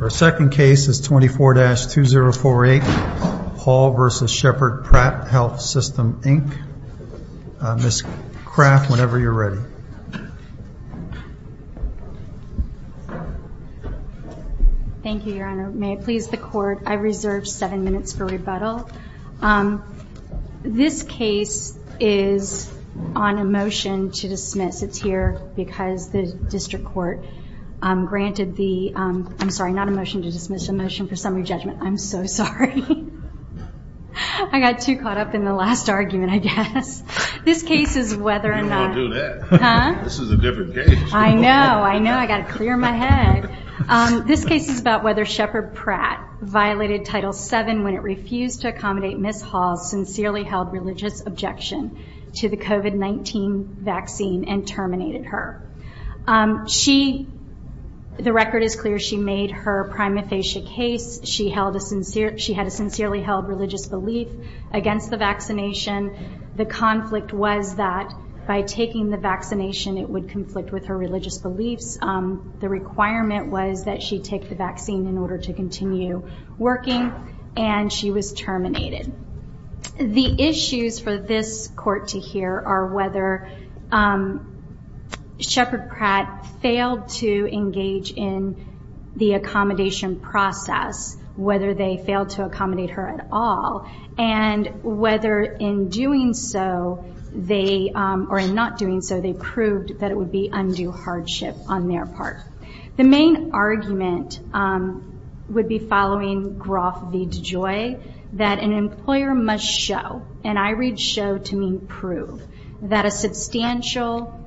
Our second case is 24-2048 Hall v. Sheppard Pratt Health System, Inc. Ms. Craft, whenever you're ready. Thank you, Your Honor. May it please the Court, I reserve seven minutes for rebuttal. This case is on a motion to dismiss. I'm sorry, not a motion to dismiss, a motion for summary judgment. I'm so sorry. I got too caught up in the last argument, I guess. You won't do that. This is a different case. I know, I know. I've got to clear my head. This case is about whether Sheppard Pratt violated Title VII when it refused to accommodate Ms. Hall's sincerely held religious objection to the COVID-19 vaccine and terminated her. She, the record is clear, she made her prima facie case. She held a sincere, she had a sincerely held religious belief against the vaccination. The conflict was that by taking the vaccination, it would conflict with her religious beliefs. The requirement was that she take the vaccine in order to continue working, and she was terminated. The issues for this Court to hear are whether Sheppard Pratt failed to engage in the accommodation process, whether they failed to accommodate her at all, and whether in doing so they, or in not doing so, they proved that it would be undue hardship on their part. The main argument would be following Groff v. DeJoy, that an employer must show, and I read show to mean prove, that a substantial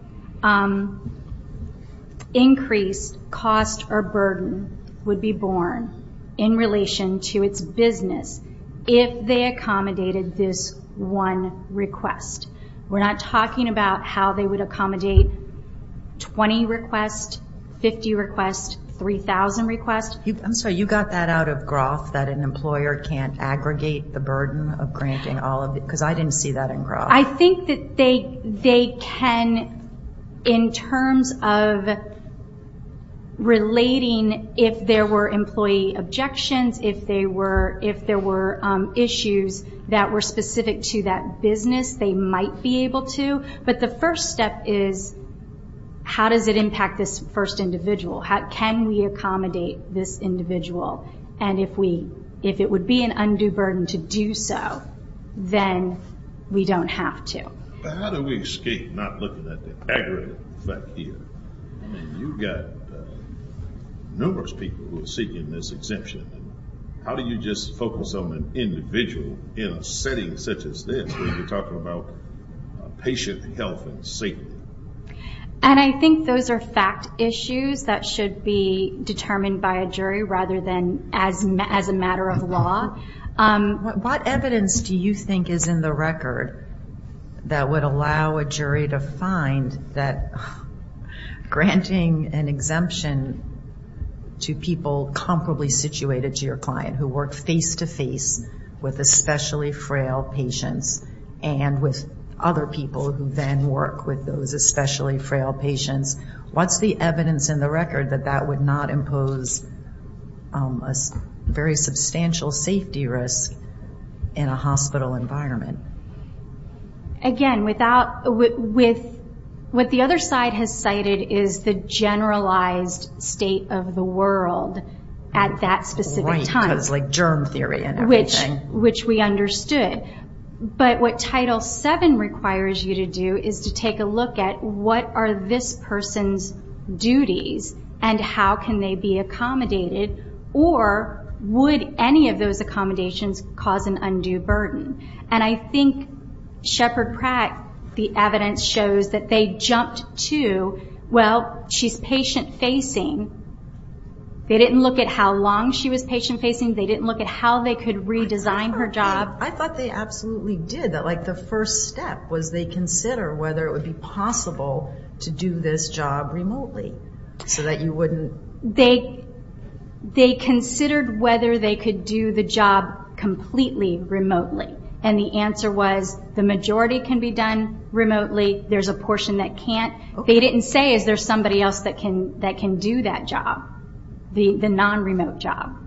increase, cost, or burden would be borne in relation to its business if they accommodated this one request. We're not talking about how they would accommodate 20 requests, 50 requests, 3,000 requests. I'm sorry, you got that out of Groff, that an employer can't aggregate the burden of granting all of it, because I didn't see that in Groff. I think that they can, in terms of relating if there were employee objections, if there were issues that were specific to that business, they might be able to, but the first step is how does it impact this first individual? Can we accommodate this individual? And if it would be an undue burden to do so, then we don't have to. How do we escape not looking at the aggregate effect here? You've got numerous people who are seeking this exemption. How do you just focus on an individual in a setting such as this when you're talking about patient health and safety? And I think those are fact issues that should be determined by a jury rather than as a matter of law. What evidence do you think is in the record that would allow a jury to find that granting an exemption to people comparably situated to your client who work face-to-face with especially frail patients and with other people who then work with those especially frail patients, what's the evidence in the record that that would not impose a very substantial safety risk in a hospital environment? Again, what the other side has cited is the generalized state of the world at that specific time. Right, like germ theory and everything. Which we understood. But what Title VII requires you to do is to take a look at what are this person's duties and how can they be accommodated, or would any of those accommodations cause an undue burden? And I think Shepard Pratt, the evidence shows that they jumped to, well, she's patient-facing. They didn't look at how long she was patient-facing. They didn't look at how they could redesign her job. I thought they absolutely did. The first step was they consider whether it would be possible to do this job remotely so that you wouldn't... They considered whether they could do the job completely remotely. And the answer was the majority can be done remotely. There's a portion that can't. They didn't say is there somebody else that can do that job, the non-remote job.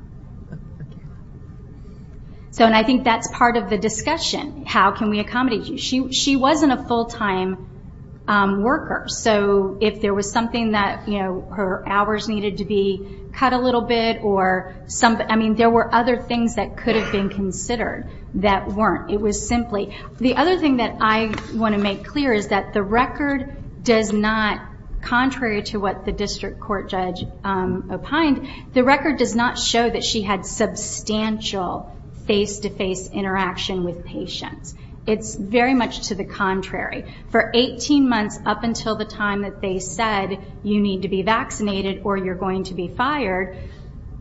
And I think that's part of the discussion. How can we accommodate you? She wasn't a full-time worker. So if there was something that her hours needed to be cut a little bit, or there were other things that could have been considered that weren't. It was simply... The other thing that I want to make clear is that the record does not, contrary to what the district court judge opined, the record does not show that she had substantial face-to-face interaction with patients. It's very much to the contrary. For 18 months up until the time that they said you need to be vaccinated or you're going to be fired,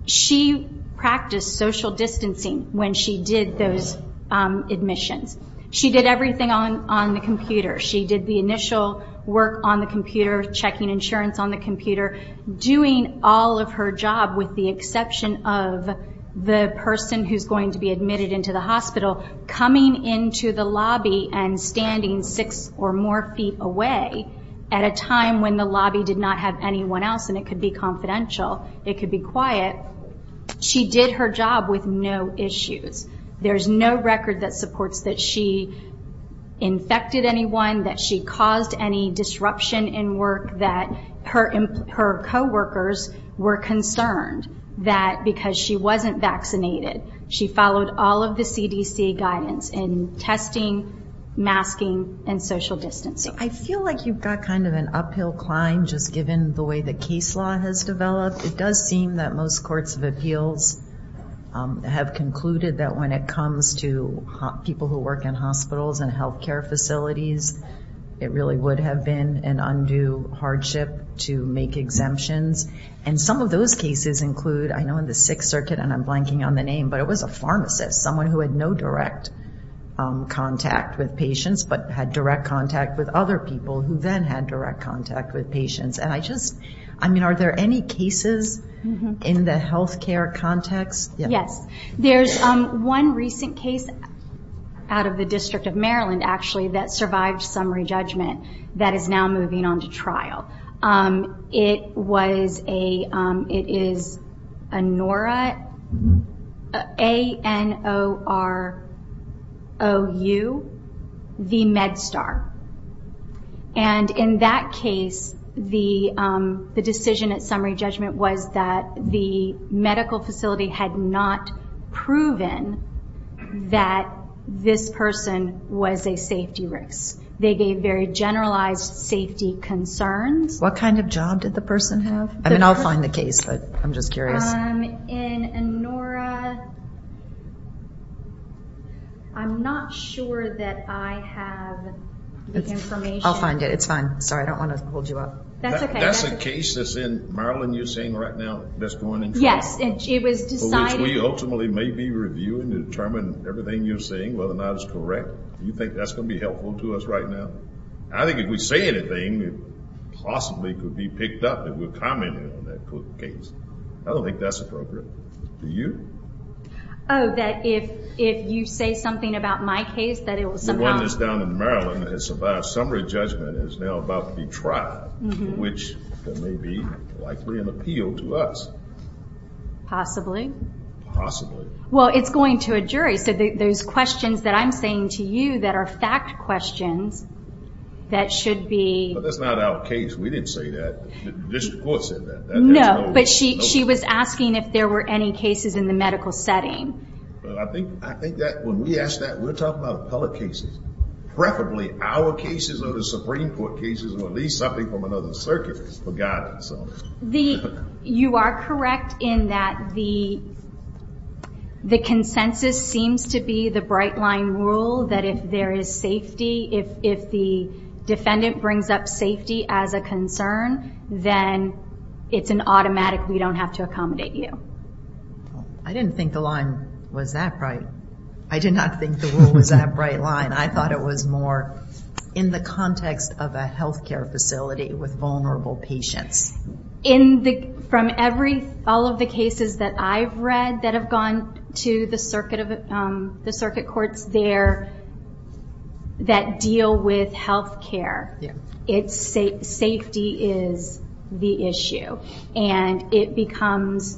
she practiced social distancing when she did those admissions. She did everything on the computer. She did the initial work on the computer, checking insurance on the computer, doing all of her job with the exception of the person who's going to be admitted into the hospital, coming into the lobby and standing six or more feet away at a time when the lobby did not have anyone else, and it could be confidential, it could be quiet. She did her job with no issues. There's no record that supports that she infected anyone, that she caused any disruption in work, that her coworkers were concerned that because she wasn't vaccinated, she followed all of the CDC guidance in testing, masking, and social distancing. I feel like you've got kind of an uphill climb just given the way the case law has developed. It does seem that most courts of appeals have concluded that when it comes to people who work in hospitals and health care facilities, it really would have been an undue hardship to make exemptions. And some of those cases include, I know in the Sixth Circuit, and I'm blanking on the name, but it was a pharmacist, someone who had no direct contact with patients, but had direct contact with other people who then had direct contact with patients. And I just, I mean, are there any cases in the health care context? Yes. There's one recent case out of the District of Maryland, actually, that survived summary judgment that is now moving on to trial. It was a, it is ANORU, the MedStar. And in that case, the decision at summary judgment was that the medical facility had not proven that this person was a safety risk. They gave very generalized safety concerns. What kind of job did the person have? I mean, I'll find the case, but I'm just curious. In ANORA, I'm not sure that I have the information. I'll find it. It's fine. Sorry, I don't want to hold you up. That's okay. That's a case that's in Maryland you're saying right now that's going into trial? Yes, it was decided. Which we ultimately may be reviewing to determine everything you're saying, whether or not it's correct. Do you think that's going to be helpful to us right now? I think if we say anything, it possibly could be picked up if we're commenting on that case. I don't think that's appropriate. Do you? Oh, that if you say something about my case, that it will somehow... The one that's down in Maryland that has survived summary judgment is now about to be trialed, which may be likely an appeal to us. Possibly. Possibly. Well, it's going to a jury. Those questions that I'm saying to you that are fact questions, that should be... But that's not our case. We didn't say that. The district court said that. No, but she was asking if there were any cases in the medical setting. I think that when we ask that, we're talking about appellate cases. Preferably our cases or the Supreme Court cases or at least something from another circuit. Forgotten. You are correct in that the consensus seems to be the bright line rule that if there is safety, if the defendant brings up safety as a concern, then it's an automatic, we don't have to accommodate you. I didn't think the line was that bright. I did not think the rule was that bright line. I thought it was more in the context of a health care facility with vulnerable patients. From all of the cases that I've read that have gone to the circuit courts there that deal with health care, safety is the issue. It becomes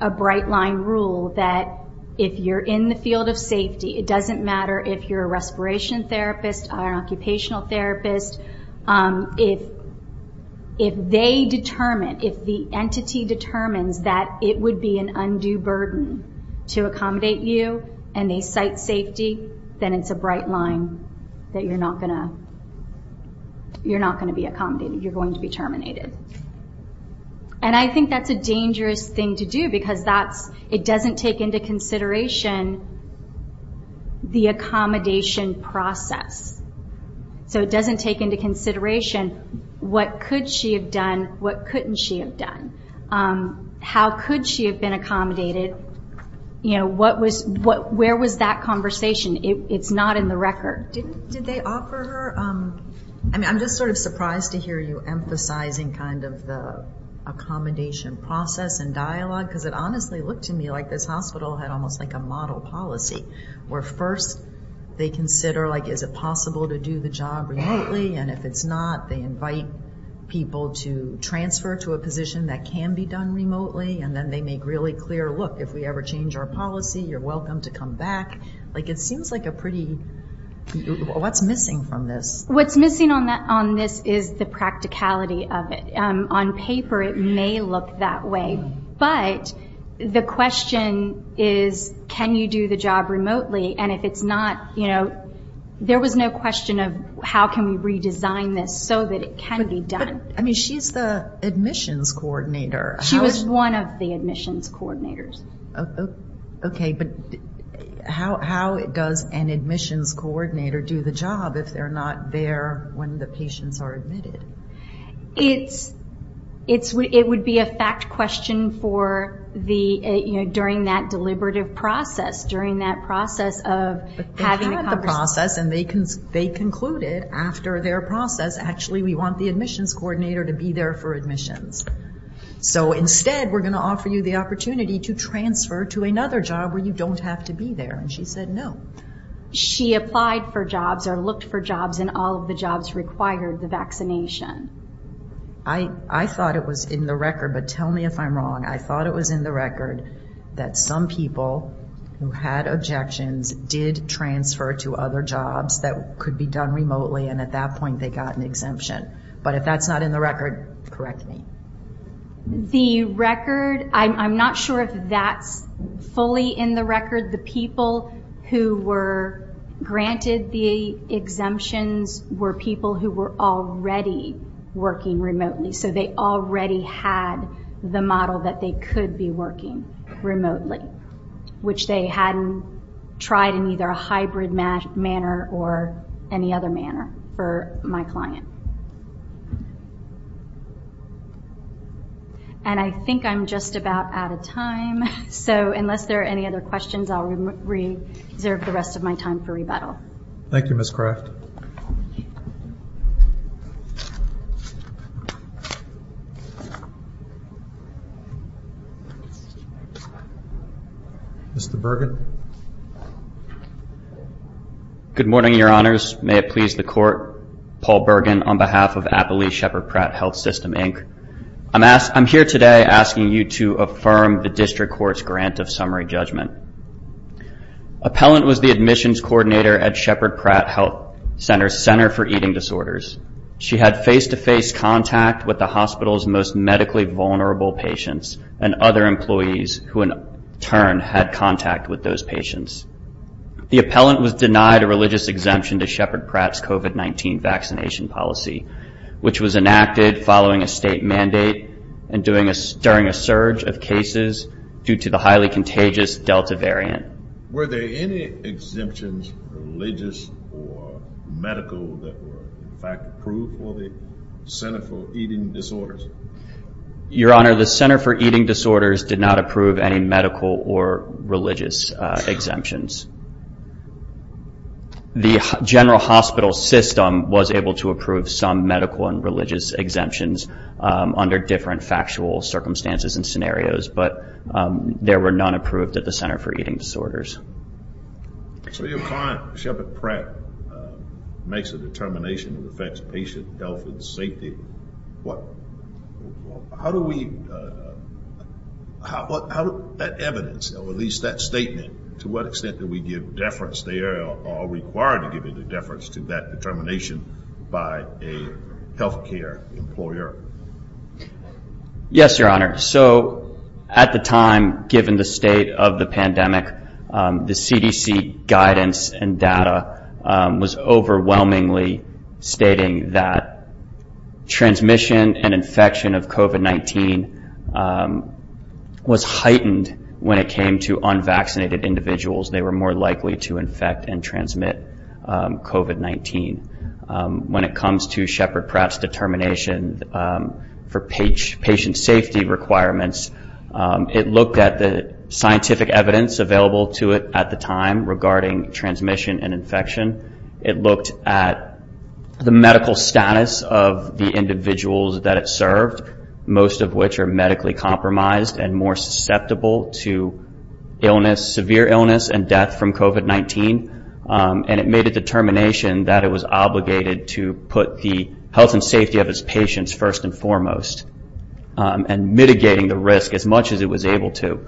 a bright line rule that if you're in the field of safety, it doesn't matter if you're a respiration therapist or an occupational therapist. If they determine, if the entity determines that it would be an undue burden to accommodate you and they cite safety, then it's a bright line that you're not going to be accommodated. You're going to be terminated. I think that's a dangerous thing to do because it doesn't take into consideration the accommodation process. It doesn't take into consideration what could she have done, what couldn't she have done. How could she have been accommodated? Where was that conversation? It's not in the record. Did they offer her? I'm just sort of surprised to hear you emphasizing kind of the accommodation process and dialogue because it honestly looked to me like this hospital had almost like a model policy where first they consider is it possible to do the job remotely, and if it's not, they invite people to transfer to a position that can be done remotely, and then they make really clear, look, if we ever change our policy, you're welcome to come back. It seems like a pretty, what's missing from this? What's missing on this is the practicality of it. On paper it may look that way, but the question is can you do the job remotely, and if it's not, there was no question of how can we redesign this so that it can be done. She's the admissions coordinator. She was one of the admissions coordinators. Okay, but how does an admissions coordinator do the job if they're not there when the patients are admitted? It would be a fact question during that deliberative process, during that process of having a conversation. They had the process, and they concluded after their process, actually we want the admissions coordinator to be there for admissions. So instead, we're going to offer you the opportunity to transfer to another job where you don't have to be there, and she said no. She applied for jobs or looked for jobs, and all of the jobs required the vaccination. I thought it was in the record, but tell me if I'm wrong. I thought it was in the record that some people who had objections did transfer to other jobs that could be done remotely, and at that point they got an exemption. But if that's not in the record, correct me. The record, I'm not sure if that's fully in the record. The people who were granted the exemptions were people who were already working remotely, so they already had the model that they could be working remotely, which they hadn't tried in either a hybrid manner or any other manner for my client. I think I'm just about out of time, so unless there are any other questions, I'll reserve the rest of my time for rebuttal. Thank you, Ms. Craft. Mr. Bergen. Good morning, Your Honors. May it please the Court. Paul Bergen on behalf of Applee Shepherd Pratt Health System, Inc. I'm here today asking you to affirm the district court's grant of summary judgment. Appellant was the admissions coordinator at Shepherd Pratt Health Center's Center for Eating Disorders. She had face-to-face contact with the hospital's most medically vulnerable patients and other employees who, in turn, had contact with those patients. The appellant was denied a religious exemption to Shepherd Pratt's COVID-19 vaccination policy, which was enacted following a state mandate and during a surge of cases due to the highly contagious Delta variant. Were there any exemptions, religious or medical, that were in fact approved for the Center for Eating Disorders? Your Honor, the Center for Eating Disorders did not approve any medical or religious exemptions. The general hospital system was able to approve some medical and religious exemptions under different factual circumstances and scenarios, but there were none approved at the Center for Eating Disorders. So your client, Shepherd Pratt, makes a determination that affects patient health and safety. How do we – how does that evidence, or at least that statement, to what extent do we give deference there or are required to give any deference to that determination by a health care employer? Yes, Your Honor. So at the time, given the state of the pandemic, the CDC guidance and data was overwhelmingly stating that transmission and infection of COVID-19 was heightened when it came to unvaccinated individuals. They were more likely to infect and transmit COVID-19. When it comes to Shepherd Pratt's determination for patient safety requirements, it looked at the scientific evidence available to it at the time regarding transmission and infection. It looked at the medical status of the individuals that it served, most of which are medically compromised and more susceptible to illness, severe illness and death from COVID-19. And it made a determination that it was obligated to put the health and safety of its patients first and foremost, and mitigating the risk as much as it was able to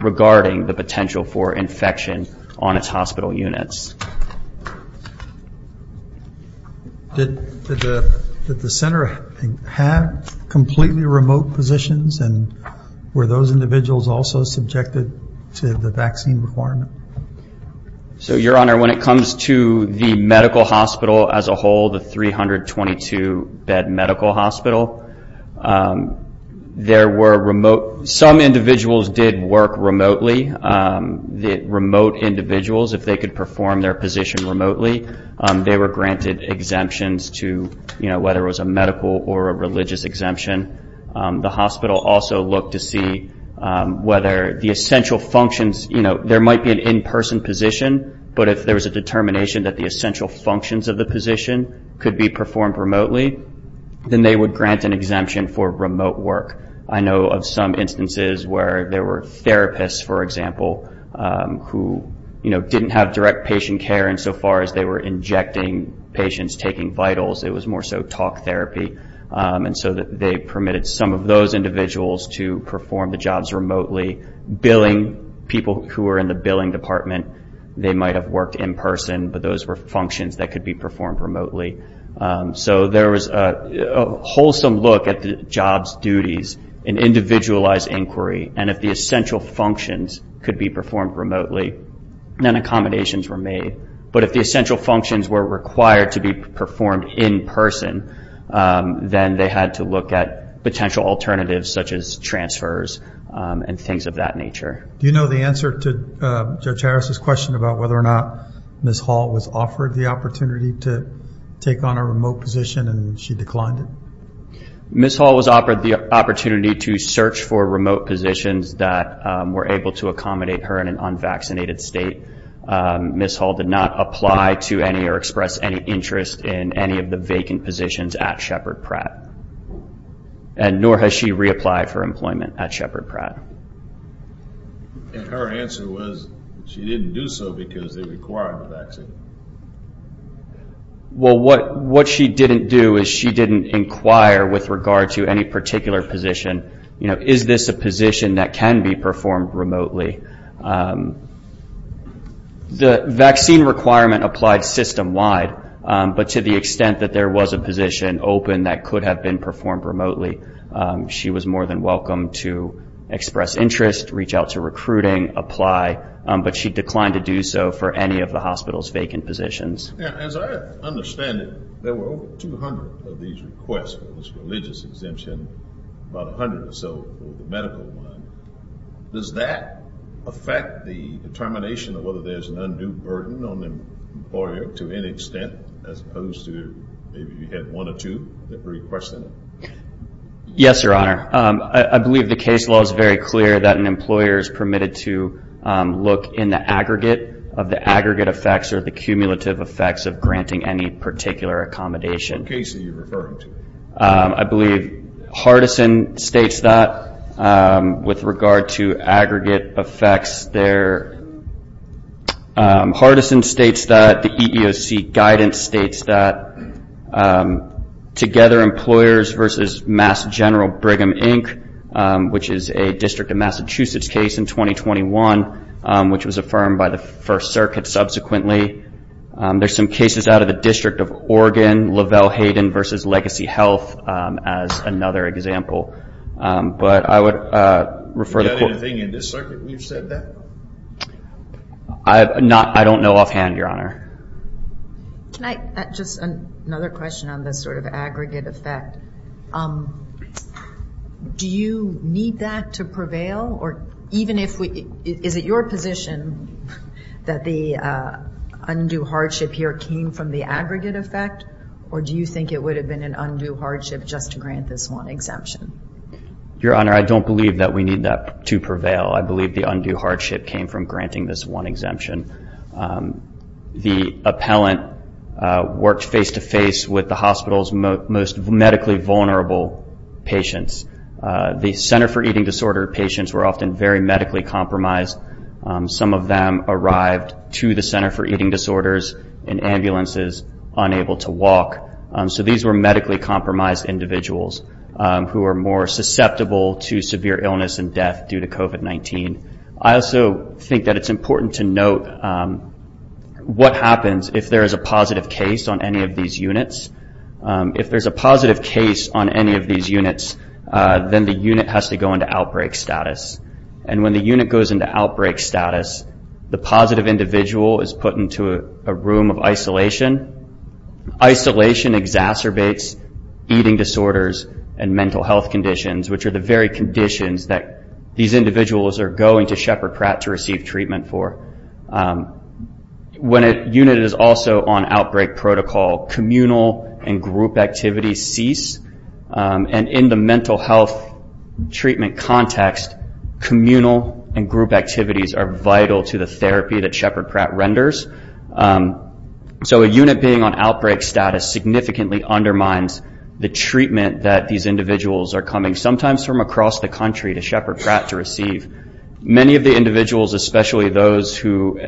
regarding the potential for infection on its hospital units. Did the center have completely remote positions and were those individuals also subjected to the vaccine requirement? So, Your Honor, when it comes to the medical hospital as a whole, the 322-bed medical hospital, there were remote. Some individuals did work remotely. The remote individuals, if they could perform their position remotely, they were granted exemptions to whether it was a medical or a religious exemption. The hospital also looked to see whether the essential functions, there might be an in-person position, but if there was a determination that the essential functions of the position could be performed remotely, then they would grant an exemption for remote work. I know of some instances where there were therapists, for example, who didn't have direct patient care insofar as they were injecting patients, taking vitals, it was more so talk therapy. And so they permitted some of those individuals to perform the jobs remotely. Billing, people who were in the billing department, they might have worked in person, but those were functions that could be performed remotely. So there was a wholesome look at the jobs, duties, and individualized inquiry, and if the essential functions could be performed remotely, then accommodations were made. But if the essential functions were required to be performed in person, then they had to look at potential alternatives such as transfers and things of that nature. Do you know the answer to Judge Harris's question about whether or not Ms. Hall was offered the opportunity to take on a remote position and she declined it? Ms. Hall was offered the opportunity to search for remote positions that were able to accommodate her in an unvaccinated state. Ms. Hall did not apply to any or express any interest in any of the vacant positions at Shepard Pratt, and nor has she reapplied for employment at Shepard Pratt. And her answer was she didn't do so because they required the vaccine. Well, what she didn't do is she didn't inquire with regard to any particular position. You know, is this a position that can be performed remotely? The vaccine requirement applied system-wide, but to the extent that there was a position open that could have been performed remotely, she was more than welcome to express interest, reach out to recruiting, apply, but she declined to do so for any of the hospital's vacant positions. As I understand it, there were over 200 of these requests for this religious exemption, about 100 or so for the medical one. Does that affect the determination of whether there's an undue burden on the employer to any extent as opposed to maybe you had one or two that were requested? Yes, Your Honor. I believe the case law is very clear that an employer is permitted to look in the aggregate of the aggregate effects or the cumulative effects of granting any particular accommodation. What case are you referring to? I believe Hardison states that with regard to aggregate effects there. Hardison states that the EEOC guidance states that together employers versus Mass General Brigham, Inc., which is a District of Massachusetts case in 2021, which was affirmed by the First Circuit subsequently. There's some cases out of the District of Oregon, Lavelle-Hayden versus Legacy Health as another example. Do you have anything in this circuit where you've said that? I don't know offhand, Your Honor. Just another question on this sort of aggregate effect. Do you need that to prevail? Is it your position that the undue hardship here came from the aggregate effect, or do you think it would have been an undue hardship just to grant this one exemption? Your Honor, I don't believe that we need that to prevail. I believe the undue hardship came from granting this one exemption. The appellant worked face-to-face with the hospital's most medically vulnerable patients. The center for eating disorder patients were often very medically compromised. Some of them arrived to the center for eating disorders in ambulances unable to walk. So these were medically compromised individuals who are more susceptible to severe illness and death due to COVID-19. I also think that it's important to note what happens if there is a positive case on any of these units. If there's a positive case on any of these units, then the unit has to go into outbreak status. When the unit goes into outbreak status, the positive individual is put into a room of isolation. Isolation exacerbates eating disorders and mental health conditions, which are the very conditions that these individuals are going to Shepherd Pratt to receive treatment for. When a unit is also on outbreak protocol, communal and group activities cease. In the mental health treatment context, communal and group activities are vital to the therapy that Shepherd Pratt renders. A unit being on outbreak status significantly undermines the treatment that these individuals are coming, sometimes from across the country, to Shepherd Pratt to receive. Many of the individuals, especially those who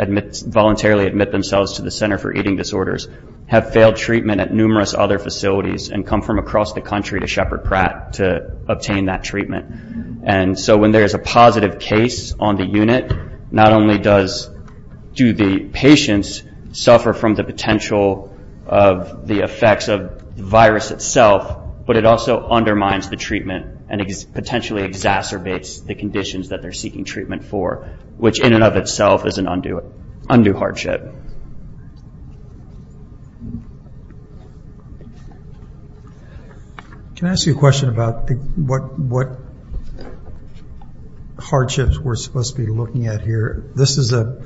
voluntarily admit themselves to the Center for Eating Disorders, have failed treatment at numerous other facilities and come from across the country to Shepherd Pratt to obtain that treatment. When there is a positive case on the unit, not only do the patients suffer from the potential of the effects of the virus itself, but it also undermines the treatment and potentially exacerbates the conditions that they're seeking treatment for, which in and of itself is an undue hardship. Can I ask you a question about what hardships we're supposed to be looking at here? This is a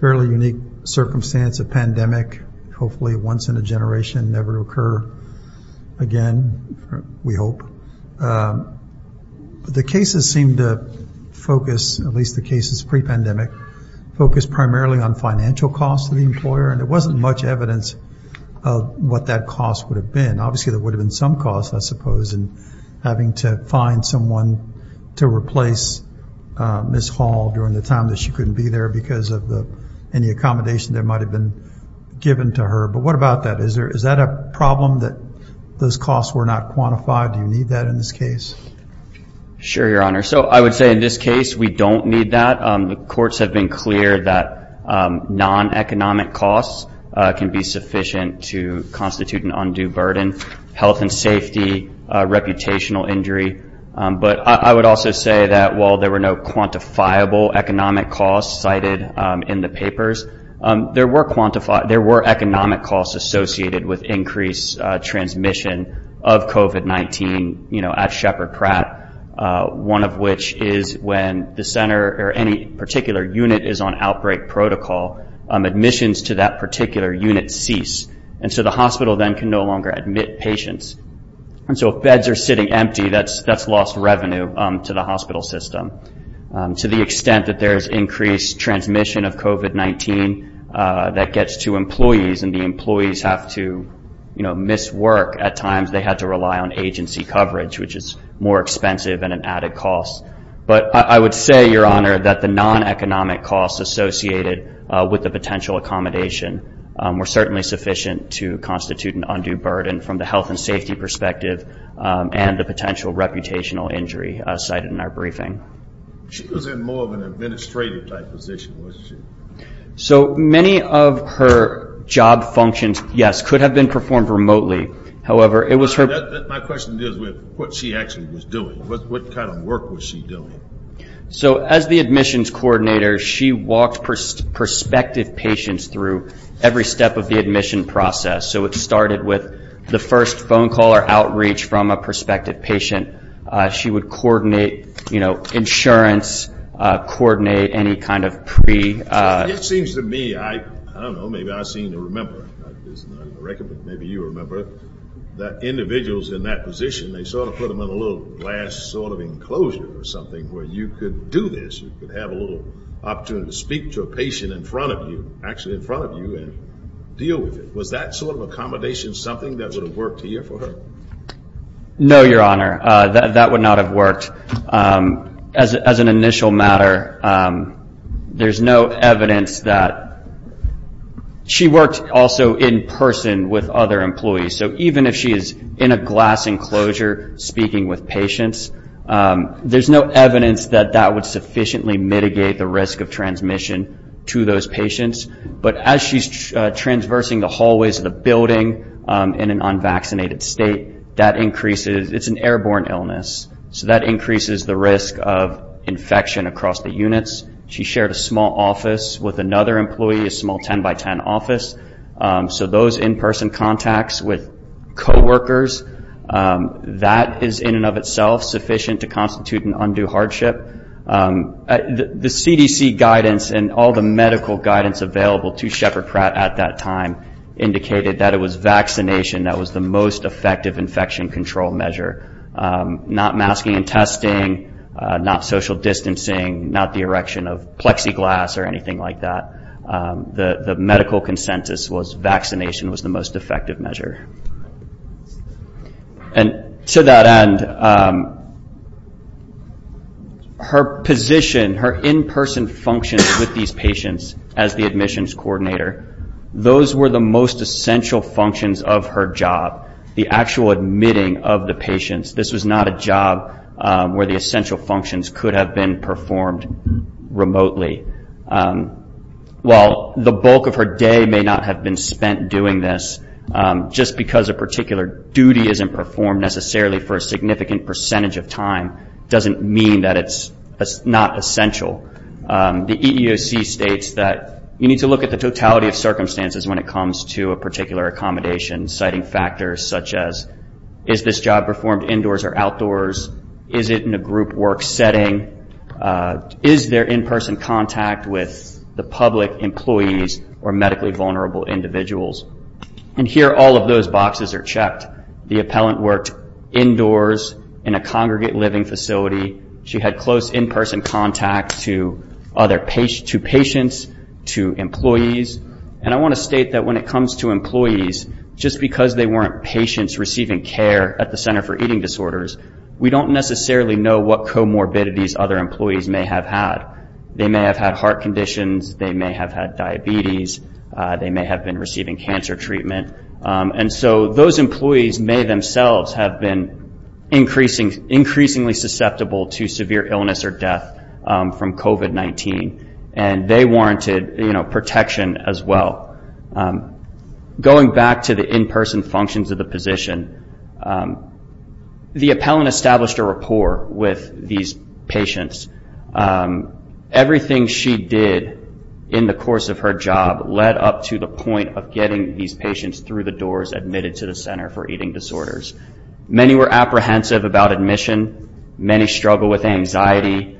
fairly unique circumstance, a pandemic, hopefully once in a generation, never occur again, we hope. The cases seem to focus, at least the cases pre-pandemic, focus primarily on financial costs to the employer, and there wasn't much evidence of what that cost would have been. Obviously there would have been some cost, I suppose, in having to find someone to replace Ms. Hall during the time that she couldn't be there because of any accommodation that might have been given to her. But what about that? Is that a problem that those costs were not quantified? Do you need that in this case? Sure, Your Honor. So I would say in this case we don't need that. The courts have been clear that non-economic costs can be sufficient to constitute an undue burden, health and safety, reputational injury. But I would also say that while there were no quantifiable economic costs cited in the papers, there were economic costs associated with increased transmission of COVID-19 at Shepherd Pratt, one of which is when the center or any particular unit is on outbreak protocol, admissions to that particular unit cease. And so the hospital then can no longer admit patients. And so if beds are sitting empty, that's lost revenue to the hospital system. To the extent that there's increased transmission of COVID-19 that gets to employees and the employees have to, you know, miss work at times, they have to rely on agency coverage, which is more expensive and an added cost. But I would say, Your Honor, that the non-economic costs associated with the potential accommodation were certainly sufficient to constitute an undue burden from the health and safety perspective and the potential reputational injury cited in our briefing. She was in more of an administrative-type position, wasn't she? So many of her job functions, yes, could have been performed remotely. However, it was her- My question deals with what she actually was doing. What kind of work was she doing? So as the admissions coordinator, she walked prospective patients through every step of the admission process. So it started with the first phone call or outreach from a prospective patient. She would coordinate, you know, insurance, coordinate any kind of pre- It seems to me, I don't know, maybe I seem to remember. Maybe you remember that individuals in that position, they sort of put them in a little glass sort of enclosure or something where you could do this. You could have a little opportunity to speak to a patient in front of you, actually in front of you, and deal with it. Was that sort of accommodation something that would have worked here for her? No, Your Honor, that would not have worked. As an initial matter, there's no evidence that- She worked also in person with other employees. So even if she is in a glass enclosure speaking with patients, there's no evidence that that would sufficiently mitigate the risk of transmission to those patients. But as she's transversing the hallways of the building in an unvaccinated state, that increases- It's an airborne illness, so that increases the risk of infection across the units. She shared a small office with another employee, a small 10-by-10 office. So those in-person contacts with coworkers, that is in and of itself sufficient to constitute an undue hardship. The CDC guidance and all the medical guidance available to Shepherd Pratt at that time indicated that it was vaccination that was the most effective infection control measure. Not masking and testing, not social distancing, not the erection of plexiglass or anything like that. The medical consensus was vaccination was the most effective measure. And to that end, her position, her in-person functions with these patients as the admissions coordinator, those were the most essential functions of her job, the actual admitting of the patients. This was not a job where the essential functions could have been performed remotely. While the bulk of her day may not have been spent doing this, just because a particular duty isn't performed necessarily for a significant percentage of time doesn't mean that it's not essential. The EEOC states that you need to look at the totality of circumstances when it comes to a particular accommodation, citing factors such as, is this job performed indoors or outdoors? Is it in a group work setting? Is there in-person contact with the public employees or medically vulnerable individuals? And here all of those boxes are checked. The appellant worked indoors in a congregate living facility. She had close in-person contact to patients, to employees. And I want to state that when it comes to employees, just because they weren't patients receiving care at the Center for Eating Disorders, we don't necessarily know what comorbidities other employees may have had. They may have had heart conditions. They may have had diabetes. They may have been receiving cancer treatment. And so those employees may themselves have been increasingly susceptible to severe illness or death from COVID-19. And they warranted protection as well. Going back to the in-person functions of the position, the appellant established a rapport with these patients. Everything she did in the course of her job led up to the point of getting these patients through the doors admitted to the Center for Eating Disorders. Many were apprehensive about admission. Many struggled with anxiety.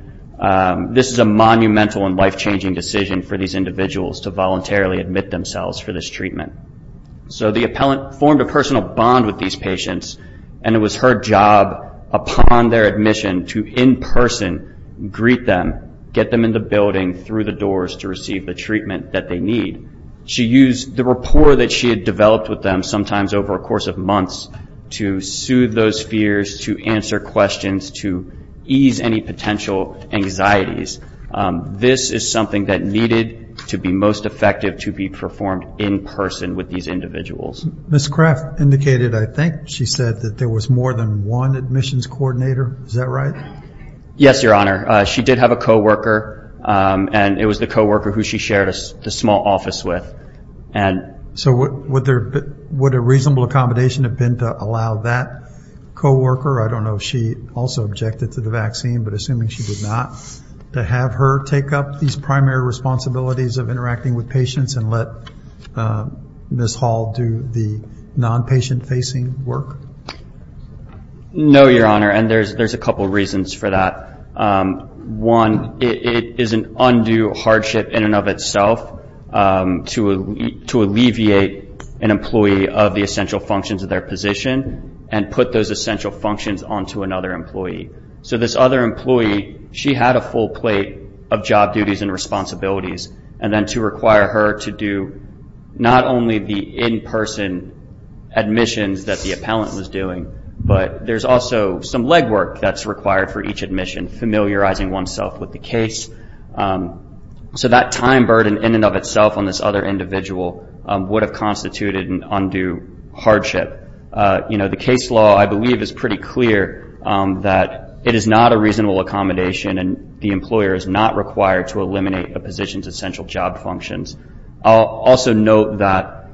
This is a monumental and life-changing decision for these individuals to voluntarily admit themselves for this treatment. So the appellant formed a personal bond with these patients, and it was her job upon their admission to in-person greet them, get them in the building, through the doors, to receive the treatment that they need. She used the rapport that she had developed with them, sometimes over a course of months, to soothe those fears, to answer questions, to ease any potential anxieties. This is something that needed to be most effective, to be performed in person with these individuals. Ms. Craft indicated, I think she said, that there was more than one admissions coordinator. Is that right? Yes, Your Honor. She did have a co-worker, and it was the co-worker who she shared a small office with. So would a reasonable accommodation have been to allow that co-worker, I don't know if she also objected to the vaccine, but assuming she did not, to have her take up these primary responsibilities of interacting with patients and let Ms. Hall do the non-patient-facing work? No, Your Honor, and there's a couple reasons for that. One, it is an undue hardship in and of itself to alleviate an employee of the essential functions of their position and put those essential functions onto another employee. So this other employee, she had a full plate of job duties and responsibilities, and then to require her to do not only the in-person admissions that the appellant was doing, but there's also some legwork that's required for each admission, familiarizing oneself with the case. So that time burden in and of itself on this other individual would have constituted an undue hardship. The case law, I believe, is pretty clear that it is not a reasonable accommodation and the employer is not required to eliminate a position's essential job functions. I'll also note that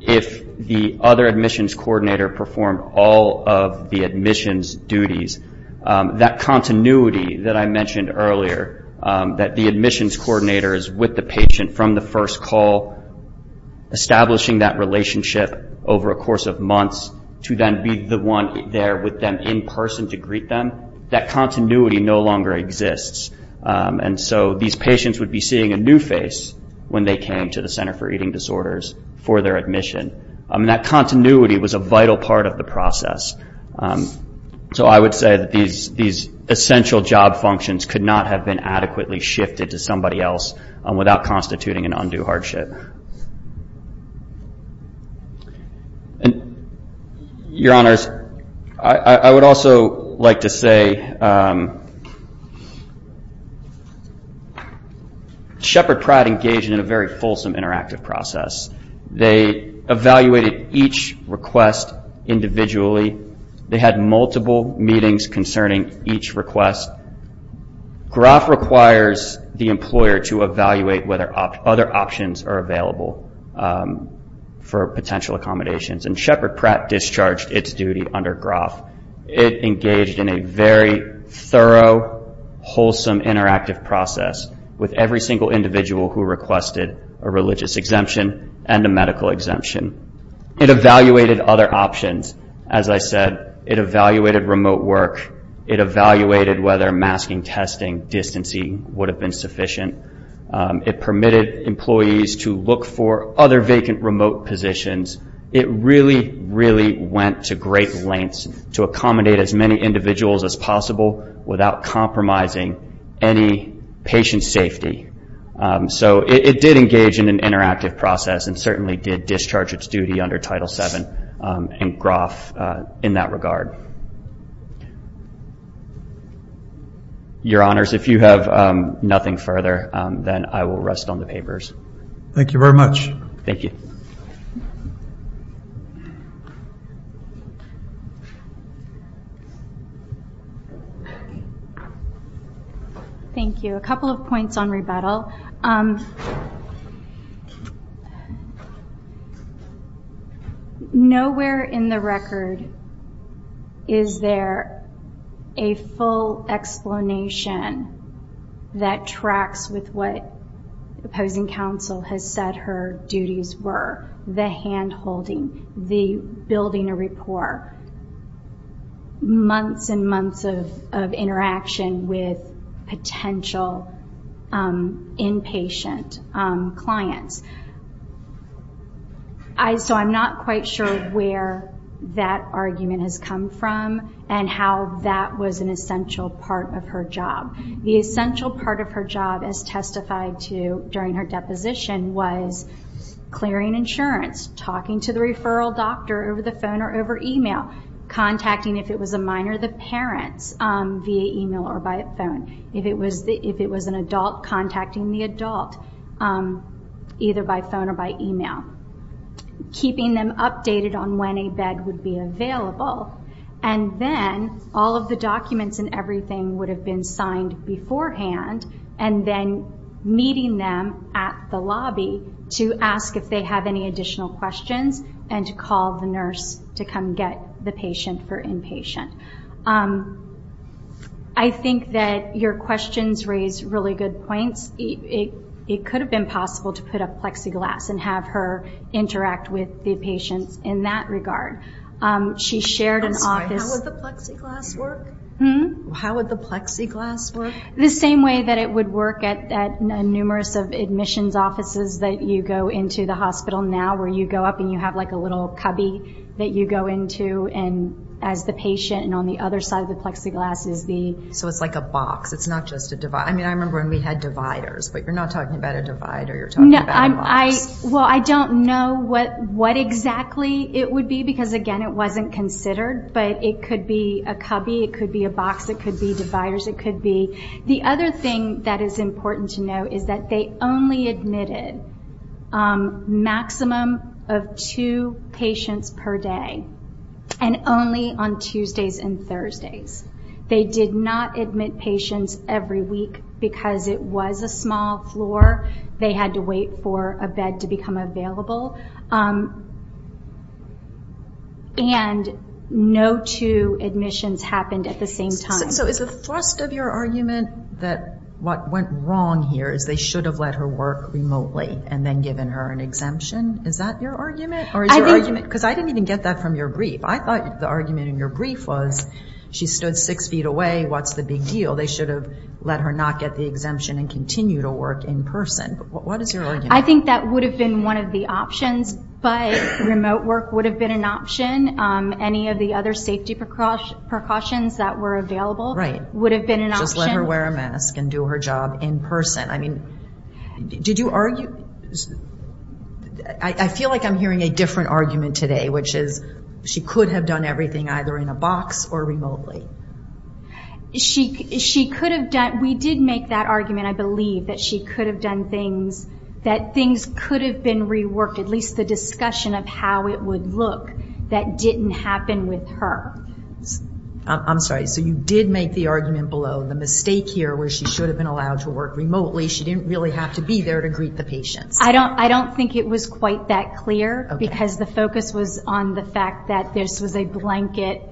if the other admissions coordinator performed all of the admissions duties, that continuity that I mentioned earlier, that the admissions coordinator is with the patient from the first call, establishing that relationship over a course of months to then be the one there with them in person to greet them, that continuity no longer exists. And so these patients would be seeing a new face when they came to the Center for Eating Disorders for their admission. That continuity was a vital part of the process. So I would say that these essential job functions could not have been adequately shifted to somebody else without constituting an undue hardship. Your Honors, I would also like to say that Shepard Pratt engaged in a very fulsome interactive process. They evaluated each request individually. They had multiple meetings concerning each request. GROF requires the employer to evaluate whether other options are available for potential accommodations, and Shepard Pratt discharged its duty under GROF. It engaged in a very thorough, wholesome, interactive process with every single individual who requested a religious exemption and a medical exemption. It evaluated other options. As I said, it evaluated remote work. It evaluated whether masking, testing, distancing would have been sufficient. It permitted employees to look for other vacant remote positions. It really, really went to great lengths to accommodate as many individuals as possible without compromising any patient safety. So it did engage in an interactive process and certainly did discharge its duty under Title VII and GROF in that regard. Your Honors, if you have nothing further, then I will rest on the papers. Thank you very much. Thank you. Thank you. A couple of points on rebuttal. Nowhere in the record is there a full explanation that tracks with what opposing counsel has said her duties were. The hand-holding, the building a rapport, months and months of interaction with potential inpatient clients. So I'm not quite sure where that argument has come from and how that was an essential part of her job. The essential part of her job, as testified to during her deposition, was clearing insurance, talking to the referral doctor over the phone or over email, contacting, if it was a minor, the parents via email or by phone. If it was an adult, contacting the adult either by phone or by email. Keeping them updated on when a bed would be available and then all of the documents and everything would have been signed beforehand and then meeting them at the lobby to ask if they have any additional questions and to call the nurse to come get the patient for inpatient. I think that your questions raise really good points. It could have been possible to put up plexiglass and have her interact with the patients in that regard. How would the plexiglass work? The same way that it would work at numerous admissions offices that you go into the hospital now, where you go up and you have a little cubby that you go into as the patient and on the other side of the plexiglass is the... So it's like a box, it's not just a divider. I remember when we had dividers, but you're not talking about a divider, you're talking about a box. Well, I don't know what exactly it would be, because again it wasn't considered, but it could be a cubby, it could be a box, it could be dividers, it could be... The other thing that is important to know is that they only admitted maximum of two patients per day and only on Tuesdays and Thursdays. They did not admit patients every week because it was a small floor. They had to wait for a bed to become available. And no two admissions happened at the same time. So is the thrust of your argument that what went wrong here is they should have let her work remotely and then given her an exemption? Is that your argument? Because I didn't even get that from your brief. I thought the argument in your brief was she stood six feet away, what's the big deal? They should have let her not get the exemption and continue to work in person. What is your argument? I think that would have been one of the options, but remote work would have been an option. Any of the other safety precautions that were available would have been an option. Just let her wear a mask and do her job in person. Did you argue? I feel like I'm hearing a different argument today, which is she could have done everything either in a box or remotely. We did make that argument, I believe, that things could have been reworked, at least the discussion of how it would look, that didn't happen with her. I'm sorry, so you did make the argument below, the mistake here where she should have been allowed to work remotely, she didn't really have to be there to greet the patients. I don't think it was quite that clear, because the focus was on the fact that this was a blanket,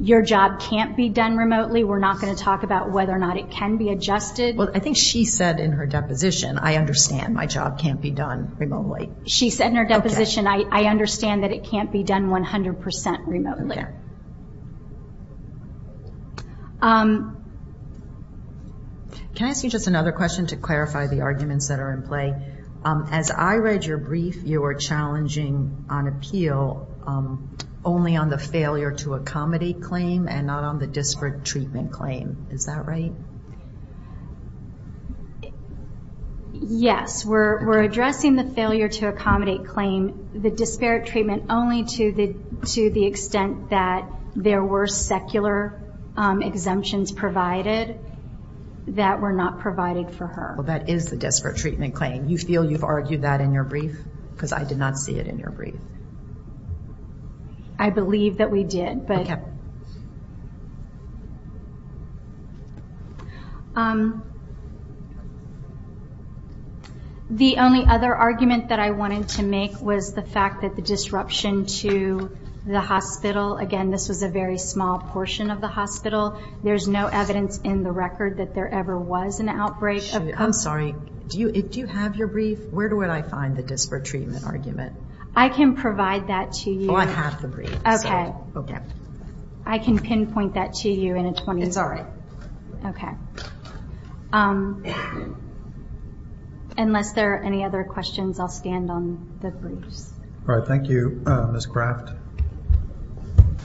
your job can't be done remotely, we're not going to talk about whether or not it can be adjusted. I think she said in her deposition, I understand my job can't be done remotely. She said in her deposition, I understand that it can't be done 100% remotely. Can I ask you just another question to clarify the arguments that are in play? As I read your brief, you were challenging on appeal only on the failure to accommodate claim and not on the disparate treatment claim. Is that right? Yes, we're addressing the failure to accommodate claim, the disparate treatment only to the extent that there were secular exemptions provided that were not provided for her. That is the disparate treatment claim. You feel you've argued that in your brief? Because I did not see it in your brief. I believe that we did. The only other argument that I wanted to make was the fact that the disruption to the hospital, again this was a very small portion of the hospital, there's no evidence in the record that there ever was an outbreak. I'm sorry, do you have your brief? Where do I find the disparate treatment argument? I can provide that to you. I have the brief. I can pinpoint that to you. It's all right. Unless there are any other questions, I'll stand on the briefs. All right, thank you. Ms. Kraft.